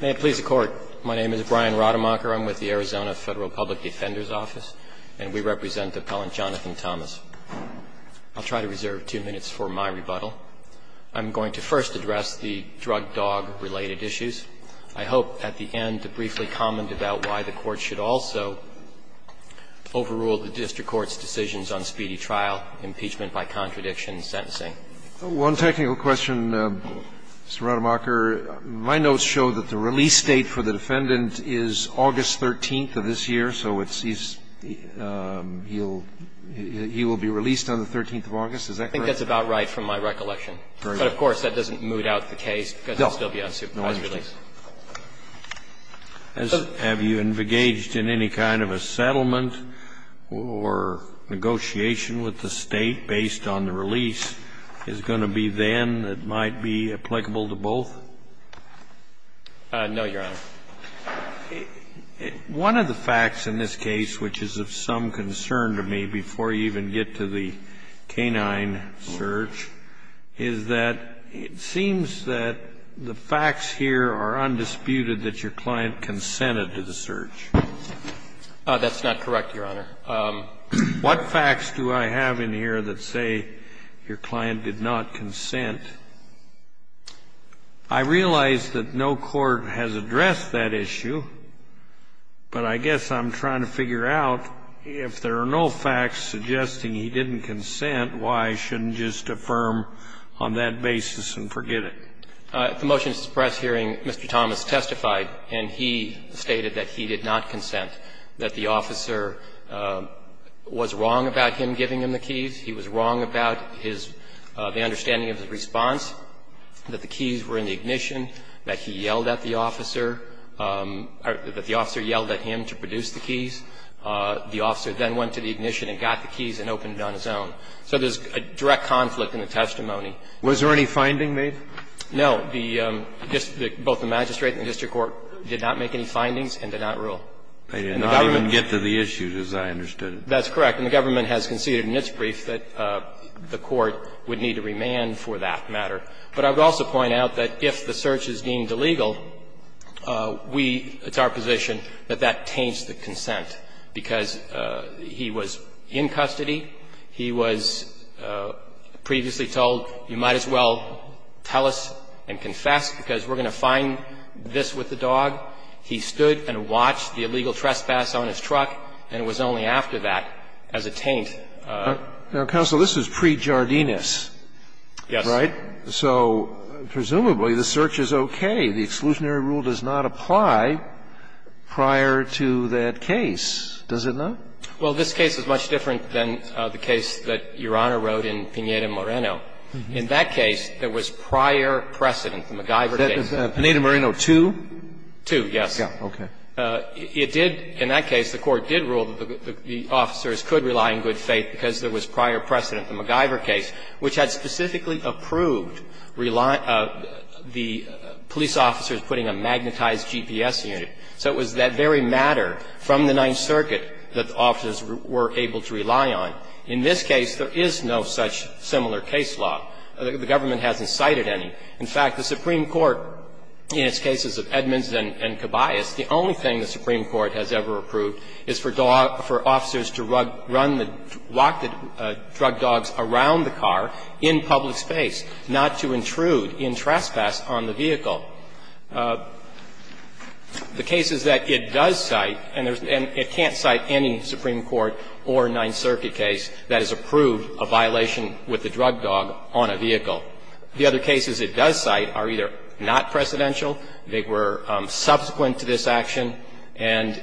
May it please the Court. My name is Brian Rademacher. I'm with the Arizona Federal Public Defender's Office, and we represent Appellant Jonathan Thomas. I'll try to reserve two minutes for my rebuttal. I'm going to first address the drug dog-related issues. I hope at the end to briefly comment about why the Court should also overrule the district court's decisions on speedy trial, impeachment by contradiction, and sentencing. One technical question, Mr. Rademacher. My notes show that the release date for the defendant is August 13th of this year, so it's he's he'll he will be released on the 13th of August. Is that correct? I think that's about right from my recollection. But of course, that doesn't moot out the case because he'll still be on supervised release. Have you engaged in any kind of a settlement or negotiation with the State based on the release? Is it going to be then that might be applicable to both? No, Your Honor. One of the facts in this case, which is of some concern to me, before you even get to the K-9 search, is that it seems that the facts here are undisputed that your client consented to the search. That's not correct, Your Honor. What facts do I have in here that say your client did not consent? I realize that no court has addressed that issue, but I guess I'm trying to figure out, if there are no facts suggesting he didn't consent, why shouldn't you just affirm on that basis and forget it? At the motions press hearing, Mr. Thomas testified, and he stated that he did not consent, that the officer was wrong about him giving him the keys, he was wrong about his the understanding of his response, that the keys were in the ignition, that he yelled at the officer, that the officer yelled at him to produce the keys. The officer then went to the ignition and got the keys and opened it on his own. So there's a direct conflict in the testimony. Was there any finding made? No. The just the both the magistrate and the district court did not make any findings and did not rule. They did not even get to the issues, as I understood it. That's correct. And the government has conceded in its brief that the court would need to remand for that matter. But I would also point out that if the search is deemed illegal, we, it's our position, that that taints the consent, because he was in custody, he was previously told, you might as well tell us and confess, because we're going to find this with the dog. He stood and watched the illegal trespass on his truck, and it was only after that as a taint. Now, counsel, this is pre-Jardinus, right? So presumably the search is okay. The exclusionary rule does not apply prior to that case, does it not? Well, this case is much different than the case that Your Honor wrote in Pineda-Moreno. In that case, there was prior precedent, the MacGyver case. Pineda-Moreno 2? 2, yes. Okay. It did, in that case, the court did rule that the officers could rely on good faith because there was prior precedent, the MacGyver case, which had specifically approved the police officers putting a magnetized GPS unit. So it was that very matter from the Ninth Circuit that the officers were able to rely on. In this case, there is no such similar case law. The government hasn't cited any. In fact, the Supreme Court, in its cases of Edmonds and Cabayas, the only thing the drug dogs around the car in public space, not to intrude in trespass on the vehicle. The cases that it does cite, and it can't cite any Supreme Court or Ninth Circuit case that has approved a violation with the drug dog on a vehicle. The other cases it does cite are either not precedential, they were subsequent to this action, and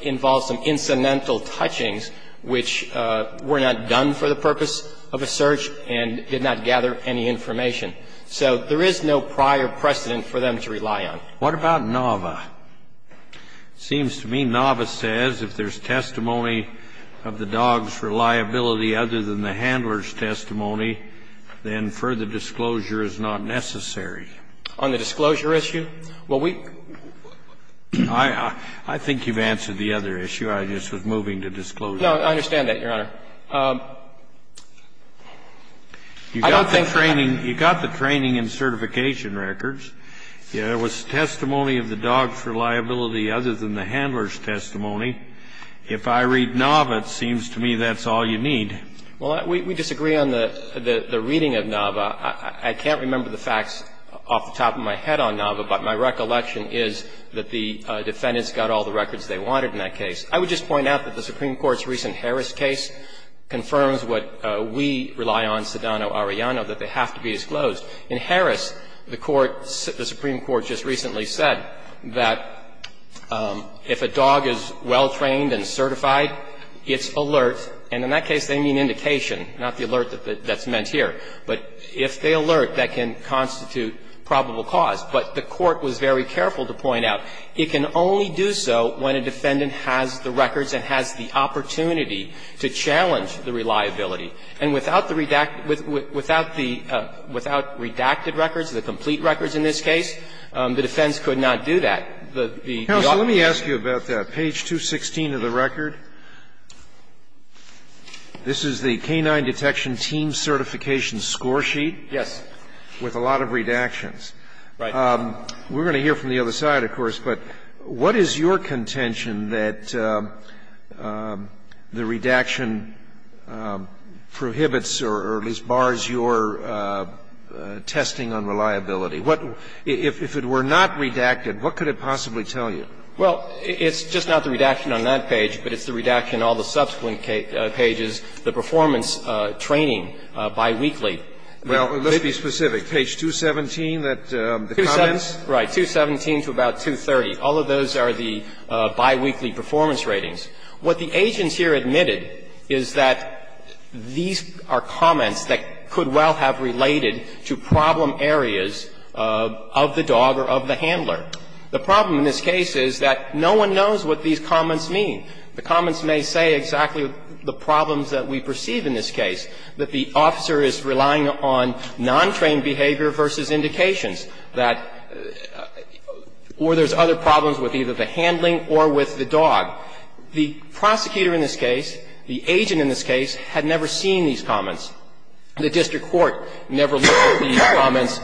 involve some incidental touchings which were not done for the purpose of a search and did not gather any information. So there is no prior precedent for them to rely on. What about Nava? It seems to me Nava says if there's testimony of the dog's reliability other than the handler's testimony, then further disclosure is not necessary. On the disclosure issue? Well, we – I think you've answered the other issue. I just was moving to disclosure. No, I understand that, Your Honor. I don't think that – You got the training and certification records. There was testimony of the dog's reliability other than the handler's testimony. If I read Nava, it seems to me that's all you need. Well, we disagree on the reading of Nava. I can't remember the facts off the top of my head on Nava, but my recollection is that the defendants got all the records they wanted in that case. I would just point out that the Supreme Court's recent Harris case confirms what we rely on, Sedano-Arellano, that they have to be disclosed. In Harris, the Supreme Court just recently said that if a dog is well-trained and certified, it's alert, and in that case they mean indication, not the alert that's if they alert, that can constitute probable cause. But the Court was very careful to point out it can only do so when a defendant has the records and has the opportunity to challenge the reliability. And without the redacted – without the – without redacted records, the complete records in this case, the defense could not do that. The – the dog – Counsel, let me ask you about that. Page 216 of the record, this is the K-9 detection team certification score sheet. Yes. With a lot of redactions. Right. We're going to hear from the other side, of course, but what is your contention that the redaction prohibits or at least bars your testing on reliability? What – if it were not redacted, what could it possibly tell you? Well, it's just not the redaction on that page, but it's the redaction on all the subsequent pages, the performance training biweekly. Now, let's be specific. Page 217, that – the comments? 217. Right. 217 to about 230. All of those are the biweekly performance ratings. What the agents here admitted is that these are comments that could well have related to problem areas of the dog or of the handler. The problem in this case is that no one knows what these comments mean. The comments may say exactly the problems that we perceive in this case, that the officer is relying on non-trained behavior versus indications, that – or there's other problems with either the handling or with the dog. The prosecutor in this case, the agent in this case, had never seen these comments. The district court never looked at these comments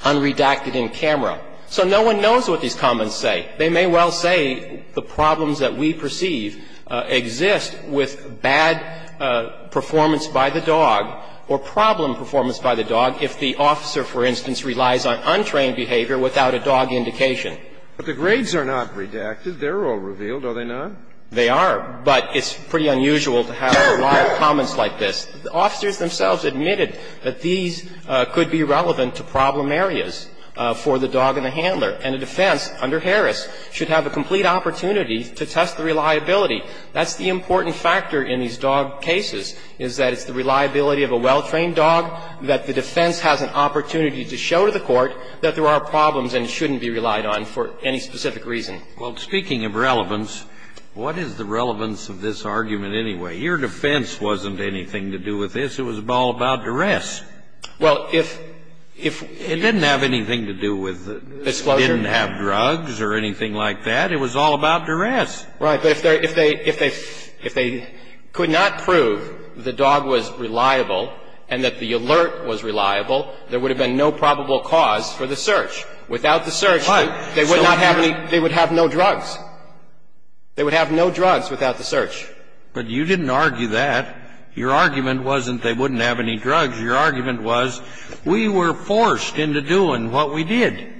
unredacted in camera. So no one knows what these comments say. They may well say the problems that we perceive exist with bad performance by the dog or problem performance by the dog if the officer, for instance, relies on untrained behavior without a dog indication. But the grades are not redacted. They're all revealed, are they not? They are. But it's pretty unusual to have a lot of comments like this. The officers themselves admitted that these could be relevant to problem areas for the dog and the handler. And a defense under Harris should have a complete opportunity to test the reliability. That's the important factor in these dog cases, is that it's the reliability of a well-trained dog, that the defense has an opportunity to show to the court that there are problems and it shouldn't be relied on for any specific reason. Well, speaking of relevance, what is the relevance of this argument anyway? Your defense wasn't anything to do with this. It was all about duress. Well, if – if – It didn't have anything to do with – Disclosure? It didn't have drugs or anything like that. It was all about duress. Right. But if they – if they – if they could not prove the dog was reliable and that the alert was reliable, there would have been no probable cause for the search. Without the search, they would not have any – they would have no drugs. They would have no drugs without the search. But you didn't argue that. Your argument wasn't they wouldn't have any drugs. Your argument was we were forced into doing what we did.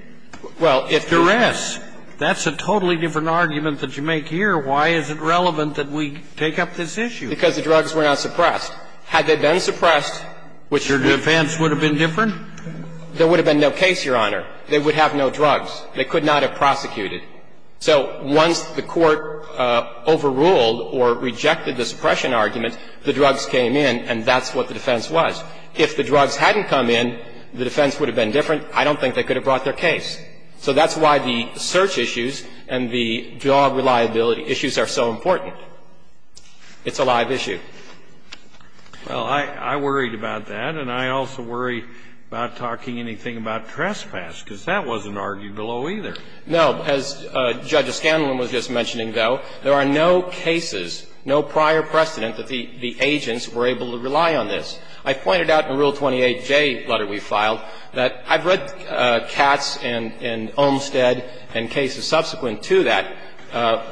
Well, if duress – That's a totally different argument that you make here. Why is it relevant that we take up this issue? Because the drugs were not suppressed. Had they been suppressed, which would – Your defense would have been different? There would have been no case, Your Honor. They would have no drugs. They could not have prosecuted. So once the Court overruled or rejected the suppression argument, the drugs came in, and that's what the defense was. If the drugs hadn't come in, the defense would have been different. I don't think they could have brought their case. So that's why the search issues and the drug reliability issues are so important. It's a live issue. Well, I worried about that, and I also worry about talking anything about trespass, because that wasn't argued below either. No. As Judge O'Scanlan was just mentioning, though, there are no cases, no prior precedent that the agents were able to rely on this. I pointed out in Rule 28J letter we filed that I've read Katz and Olmstead and cases subsequent to that a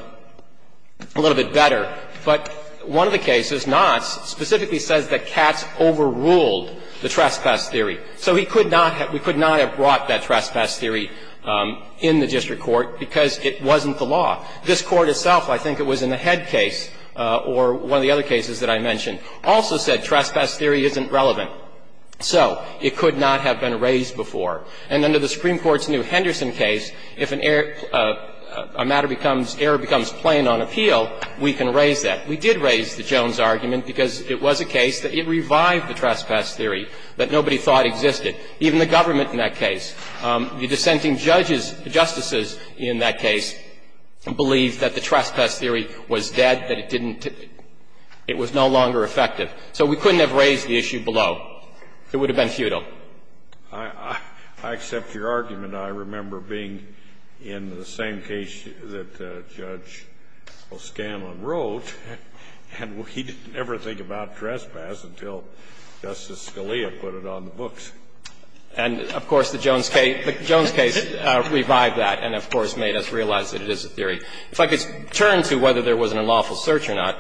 little bit better, but one of the cases, Knott's, specifically says that Katz overruled the trespass theory. So he could not have – we could not have brought that trespass theory in the district court because it wasn't the law. This Court itself, I think it was in the Head case or one of the other cases that I mentioned, also said trespass theory isn't relevant. So it could not have been raised before. And under the Supreme Court's new Henderson case, if an error – a matter becomes – error becomes plain on appeal, we can raise that. We did raise the Jones argument because it was a case that it revived the trespass theory that nobody thought existed, even the government in that case. The dissenting judges, the justices in that case, believed that the trespass theory was dead, that it didn't – it was no longer effective. So we couldn't have raised the issue below. It would have been futile. I accept your argument. I remember being in the same case that Judge O'Scanlan wrote, and he didn't ever think about trespass until Justice Scalia put it on the books. And, of course, the Jones case revived that and, of course, made us realize that it is a theory. If I could turn to whether there was an unlawful search or not,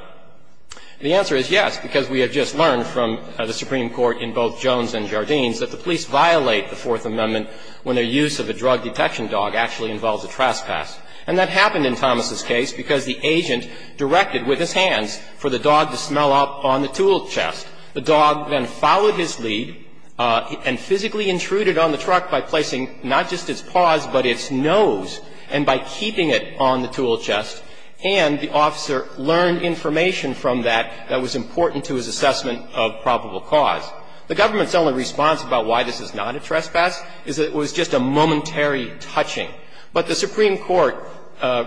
the answer is yes, because we have just learned from the Supreme Court in both Jones and Jardines that the police violate the Fourth Amendment when their use of a drug detection dog actually involves a trespass. And that happened in Thomas' case because the agent directed with his hands for the dog to smell up on the tool chest. The dog then followed his lead and physically intruded on the truck by placing not just its paws, but its nose, and by keeping it on the tool chest. And the officer learned information from that that was important to his assessment of probable cause. The government's only response about why this is not a trespass is that it was just a momentary touching. But the Supreme Court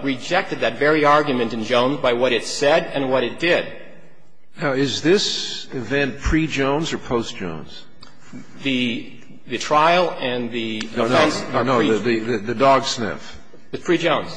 rejected that very argument in Jones by what it said and what it did. Now, is this event pre-Jones or post-Jones? The trial and the defense? No, no. The dog sniff. It's pre-Jones.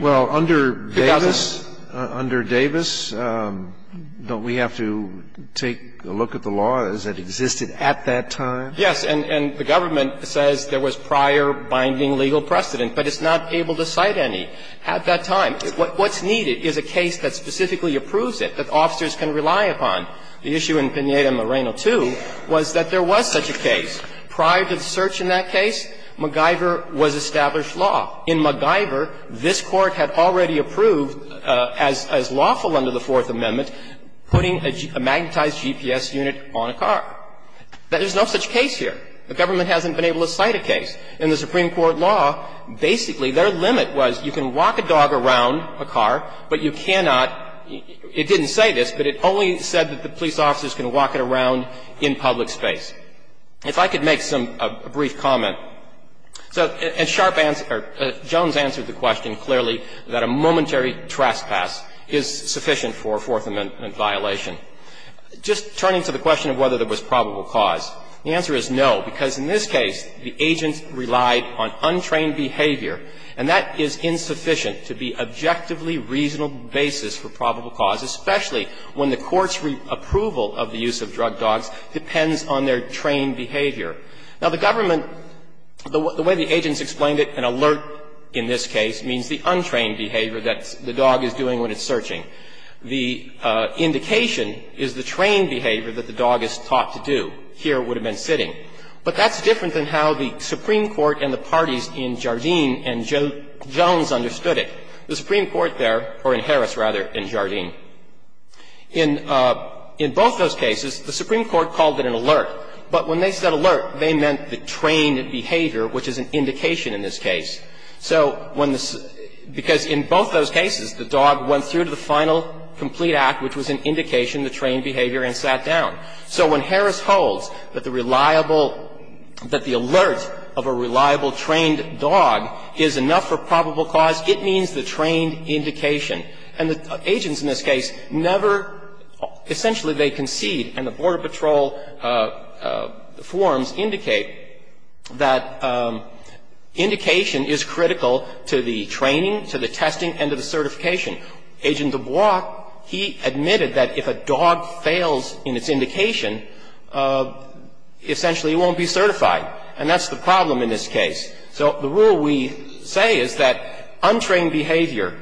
Well, under Davis, under Davis, don't we have to take a look at the law as it existed at that time? Yes. And the government says there was prior binding legal precedent, but it's not able to cite any at that time. What's needed is a case that specifically approves it, that officers can rely upon. The issue in Pineda-Moreno 2 was that there was such a case. Prior to the search in that case, MacGyver was established law. In MacGyver, this Court had already approved, as lawful under the Fourth Amendment, putting a magnetized GPS unit on a car. There's no such case here. The government hasn't been able to cite a case. In the Supreme Court law, basically their limit was you can walk a dog around a car, but you cannot – it didn't say this, but it only said that the police officer is going to walk it around in public space. If I could make some – a brief comment. So, in sharp answer – Jones answered the question clearly that a momentary trespass is sufficient for a Fourth Amendment violation. Just turning to the question of whether there was probable cause, the answer is no, because in this case, the agents relied on untrained behavior, and that is insufficient to be an objectively reasonable basis for probable cause, especially when the Court's approval of the use of drug dogs depends on their trained behavior. Now, the government – the way the agents explained it, an alert in this case means the untrained behavior that the dog is doing when it's searching. The indication is the trained behavior that the dog is taught to do. Here, it would have been sitting. But that's different than how the Supreme Court and the parties in Jardine and Jones understood it. The Supreme Court there – or in Harris, rather, in Jardine – in both those cases, the Supreme Court called it an alert. But when they said alert, they meant the trained behavior, which is an indication in this case. So when the – because in both those cases, the dog went through to the final complete act, which was an indication of the trained behavior, and sat down. So when Harris holds that the reliable – that the alert of a reliable trained dog is enough for probable cause, it means the trained indication. And the agents in this case never – essentially, they concede, and the Border Patrol forms indicate that indication is critical to the training, to the testing, and to the certification. Agent DuBois, he admitted that if a dog fails in its indication, essentially, it won't be certified. And that's the problem in this case. So the rule we say is that untrained behavior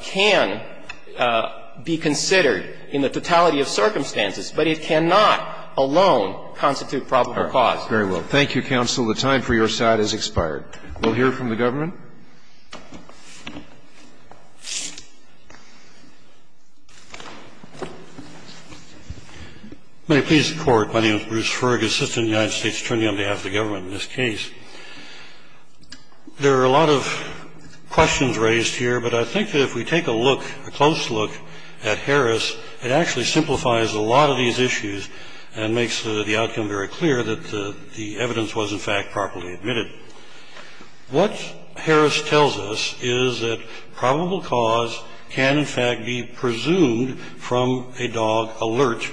can be considered in the totality of circumstances, but it cannot alone constitute probable cause. Very well. Thank you, counsel. The time for your side has expired. We'll hear from the government. May I please record, my name is Bruce Ferguson, Assistant United States Attorney on behalf of the government in this case. There are a lot of questions raised here, but I think that if we take a look, a close look at Harris, it actually simplifies a lot of these issues and makes the outcome very clear that the evidence was, in fact, properly admitted. What Harris tells us is that probable cause can, in fact, be presumed from a dog alert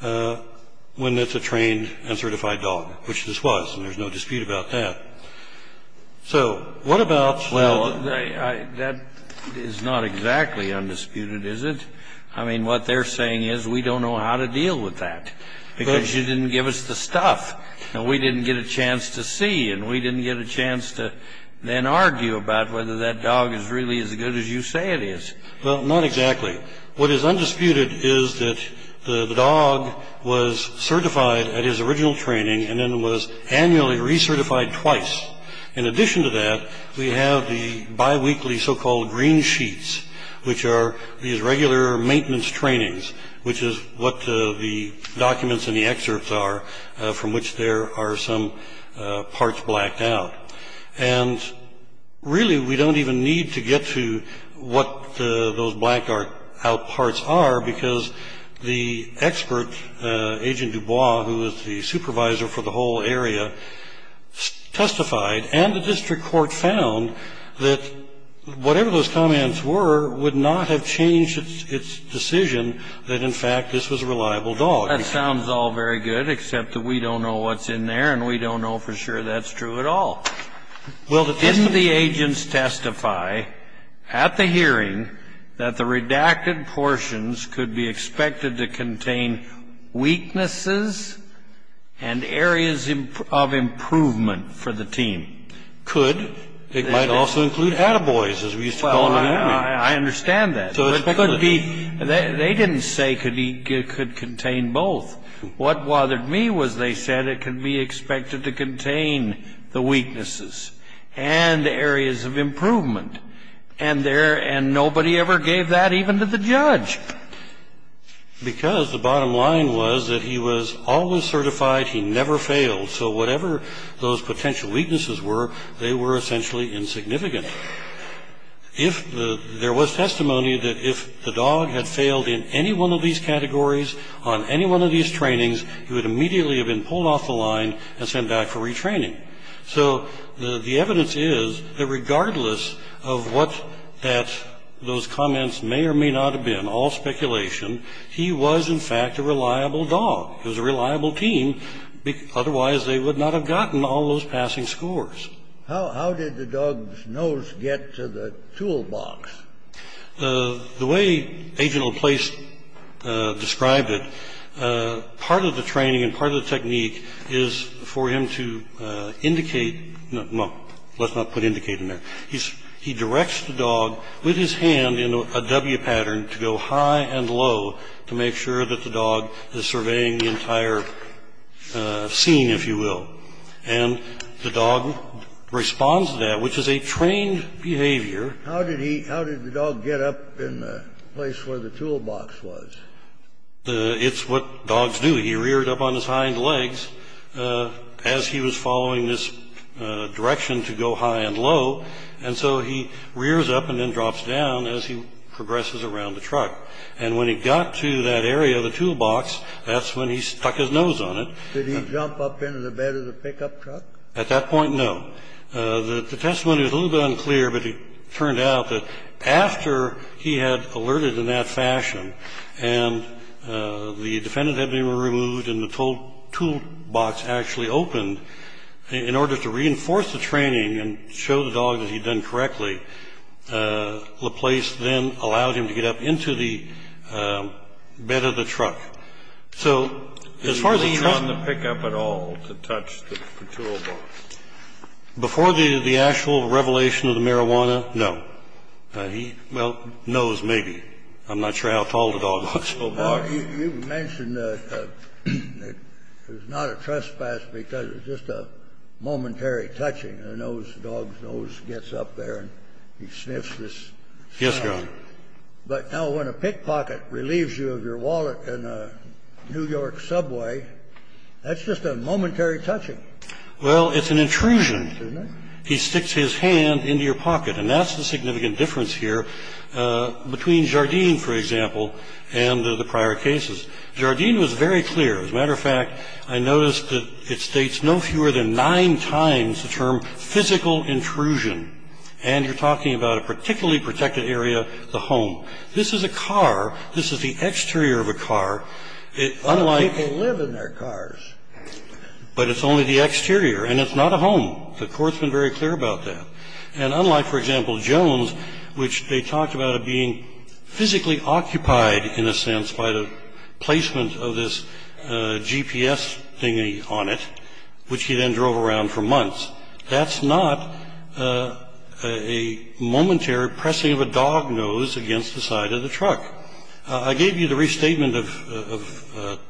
when it's a trained and certified dog, which this was. And there's no dispute about that. So what about- Well, that is not exactly undisputed, is it? I mean, what they're saying is, we don't know how to deal with that, because you didn't give us the stuff. And we didn't get a chance to see, and we didn't get a chance to then argue about whether that dog is really as good as you say it is. Well, not exactly. What is undisputed is that the dog was certified at his original training and then was annually recertified twice. In addition to that, we have the biweekly so-called green sheets, which are these regular maintenance trainings, which is what the documents and the excerpts are from which there are some parts blacked out. And really, we don't even need to get to what those blacked out parts are, because the expert, Agent Dubois, who was the supervisor for the whole area, testified, and the district court found that whatever those comments were would not have changed its decision that, in fact, this was a reliable dog. That sounds all very good, except that we don't know what's in there, and we don't know for sure that's true at all. Well, didn't the agents testify at the hearing that the redacted portions could be expected to contain weaknesses and areas of improvement for the team? Could. It might also include attaboys, as we used to call them in England. I understand that. So it could be. They didn't say it could contain both. What bothered me was they said it could be expected to contain the weaknesses and the areas of improvement, and nobody ever gave that even to the judge. Because the bottom line was that he was always certified, he never failed. So whatever those potential weaknesses were, they were essentially insignificant. If there was testimony that if the dog had failed in any one of these categories on any one of these trainings, he would immediately have been pulled off the line and sent back for retraining. So the evidence is that regardless of what those comments may or may not have been, all speculation, he was, in fact, a reliable dog. He was a reliable team, otherwise they would not have gotten all those passing scores. How did the dog's nose get to the toolbox? The way Agent O'Place described it, part of the training and part of the technique is for him to indicate, well, let's not put indicate in there. He directs the dog with his hand in a W pattern to go high and low to make sure that the dog is surveying the entire scene, if you will. And the dog responds to that, which is a trained behavior. How did he, how did the dog get up in the place where the toolbox was? It's what dogs do. He reared up on his hind legs as he was following this direction to go high and low, and so he rears up and then drops down as he progresses around the truck. And when he got to that area of the toolbox, that's when he stuck his nose on it. Did he jump up into the bed of the pickup truck? At that point, no. The testimony was a little bit unclear, but it turned out that after he had alerted in that fashion and the defendant had been removed and the toolbox actually opened, in order to reinforce the training and show the dog that he'd done correctly, LaPlace then allowed him to get up into the bed of the truck. So as far as the truck was concerned He leaned on the pickup at all to touch the toolbox. Before the actual revelation of the marijuana, no. He, well, nose maybe. I'm not sure how tall the dog was so far. You mentioned that it was not a trespass because it was just a momentary touching. The dog's nose gets up there and he sniffs this. Yes, Your Honor. But now when a pickpocket relieves you of your wallet in a New York subway, that's just a momentary touching. Well, it's an intrusion. He sticks his hand into your pocket. And that's the significant difference here between Jardine, for example, and the prior cases. Jardine was very clear. As a matter of fact, I noticed that it states no fewer than nine times the term physical intrusion. And you're talking about a particularly protected area, the home. This is a car. This is the exterior of a car. Unlike- A lot of people live in their cars. But it's only the exterior. And it's not a home. The court's been very clear about that. And unlike, for example, Jones, which they talked about it being physically occupied, in a sense, by the placement of this GPS thingy on it, which he then drove around for months. That's not a momentary pressing of a dog nose against the side of the truck. I gave you the restatement of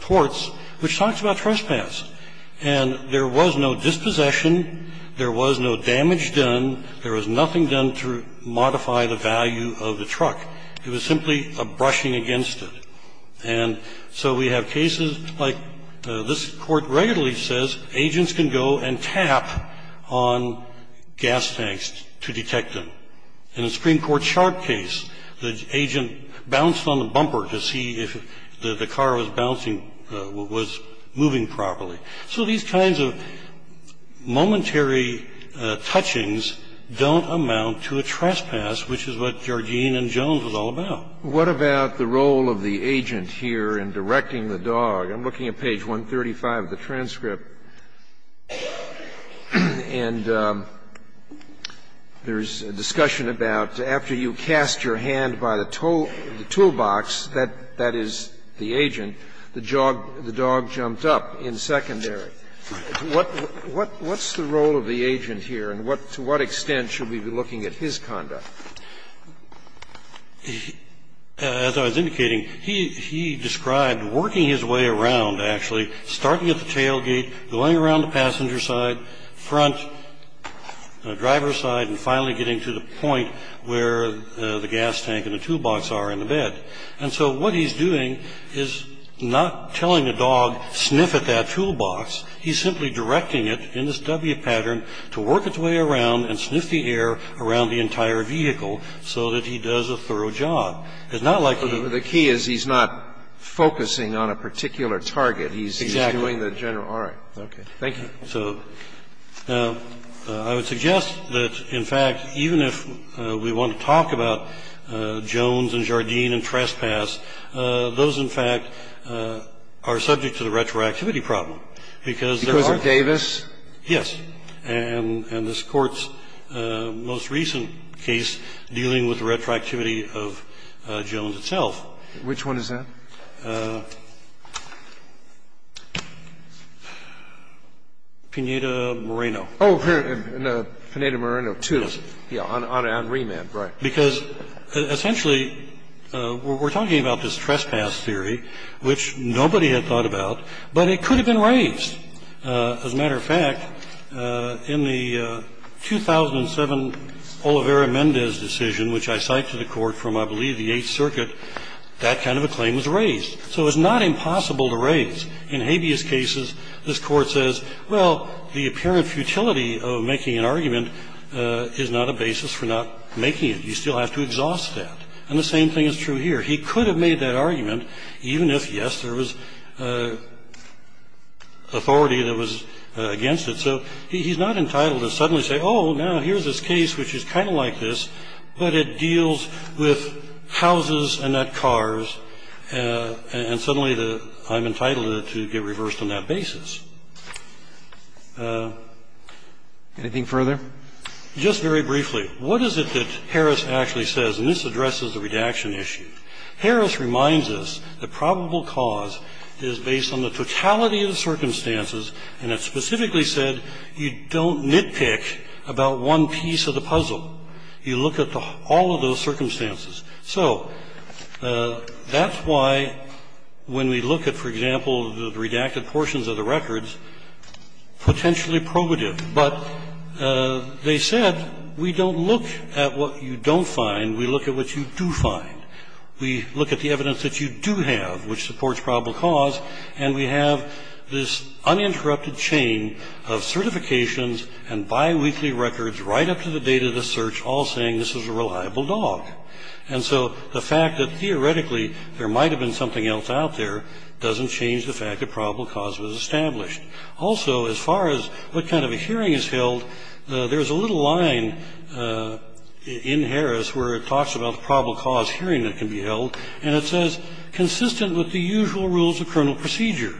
torts, which talks about trespass. And there was no dispossession. There was no damage done. There was nothing done to modify the value of the truck. It was simply a brushing against it. And so we have cases like this court regularly says, agents can go and tap on gas tanks to detect them. In a Supreme Court sharp case, the agent bounced on the bumper to see if the car was bouncing, was moving properly. So these kinds of momentary touchings don't amount to a trespass, which is what Georgine and Jones was all about. What about the role of the agent here in directing the dog? I'm looking at page 135 of the transcript. And there's a discussion about after you cast your hand by the toolbox, that is the agent, the dog jumped up in secondary. What's the role of the agent here, and to what extent should we be looking at his conduct? As I was indicating, he described working his way around, actually, starting at the tailgate, going around the passenger side, front driver's side, and finally getting to the point where the gas tank and the toolbox are in the bed. And so what he's doing is not telling a dog sniff at that toolbox. He's simply directing it in this W pattern to work its way around and sniff the air around the entire vehicle so that he does a thorough job. It's not like he- The key is he's not focusing on a particular target. He's doing the general. All right. Okay. Thank you. So I would suggest that, in fact, even if we want to talk about Jones and Jardine and Trespass, those, in fact, are subject to the retroactivity problem because- Because of Davis? Yes. And this Court's most recent case dealing with the retroactivity of Jones itself. Which one is that? Pineda-Moreno. Oh, Pineda-Moreno 2. Yes. Yeah, on remand, right. Because, essentially, we're talking about this Trespass theory, which nobody had thought about, but it could have been raised. As a matter of fact, in the 2007 Olivera-Mendez decision, which I cite to the Court from, I believe, the Eighth Circuit, that kind of a claim was raised. So it's not impossible to raise. In habeas cases, this Court says, well, the apparent futility of making an argument is not a basis for not making it. You still have to exhaust that. And the same thing is true here. He could have made that argument, even if, yes, there was authority that was against it. So he's not entitled to suddenly say, oh, now, here's this case which is kind of like this, but it deals with houses and not cars, and suddenly I'm entitled to get reversed on that basis. Anything further? Just very briefly, what is it that Harris actually says? And this addresses the redaction issue. Harris reminds us that probable cause is based on the totality of the circumstances, and it specifically said you don't nitpick about one piece of the puzzle. You look at all of those circumstances. So that's why, when we look at, for example, the redacted portions of the records, potentially probative. But they said we don't look at what you don't find. We look at what you do find. We look at the evidence that you do have, which supports probable cause, and we have this uninterrupted chain of certifications and biweekly records right up to the date of the search, all saying this is a reliable dog. And so the fact that, theoretically, there might have been something else out there doesn't change the fact that probable cause was established. Also as far as what kind of a hearing is held, there's a little line in Harris where it talks about the probable cause hearing that can be held, and it says, consistent with the usual rules of criminal procedure.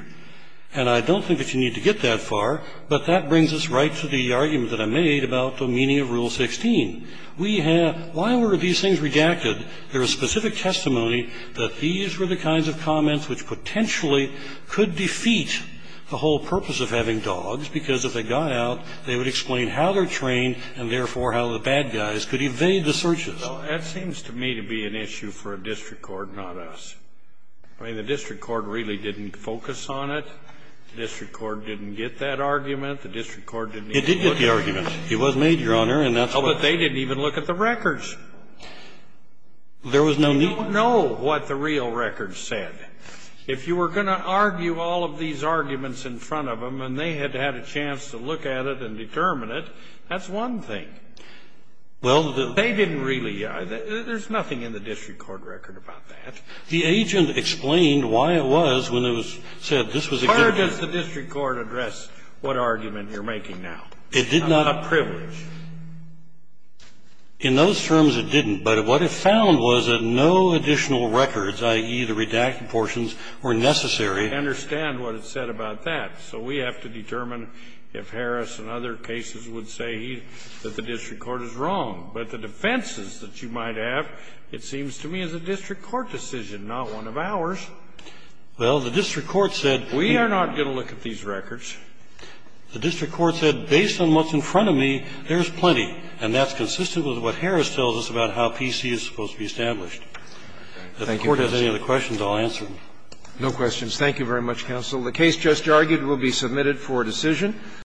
And I don't think that you need to get that far, but that brings us right to the argument that I made about the meaning of Rule 16. We have why were these things redacted? There is specific testimony that these were the kinds of comments which potentially could defeat the whole purpose of having dogs, because if they got out, they would explain how they're trained and, therefore, how the bad guys could evade the searches. Scalia. Well, that seems to me to be an issue for a district court, not us. I mean, the district court really didn't focus on it. The district court didn't even look at it. It was made, Your Honor, and that's what it was. Oh, but they didn't even look at the records. There was no need. They don't know what the real records said. If you were going to argue all of these arguments in front of them and they had had a chance to look at it and determine it, that's one thing. Well, the they didn't really. There's nothing in the district court record about that. The agent explained why it was when it was said this was a good thing. Where does the district court address what argument you're making now? It did not. A privilege. In those terms, it didn't. But what it found was that no additional records, i.e. the redacted portions, were necessary. I understand what it said about that. So we have to determine if Harris and other cases would say that the district court is wrong. But the defenses that you might have, it seems to me, is a district court decision, not one of ours. Well, the district court said. We are not going to look at these records. The district court said, based on what's in front of me, there's plenty. And that's consistent with what Harris tells us about how PC is supposed to be established. If the court has any other questions, I'll answer them. No questions. Thank you very much, counsel. The case just argued will be submitted for decision.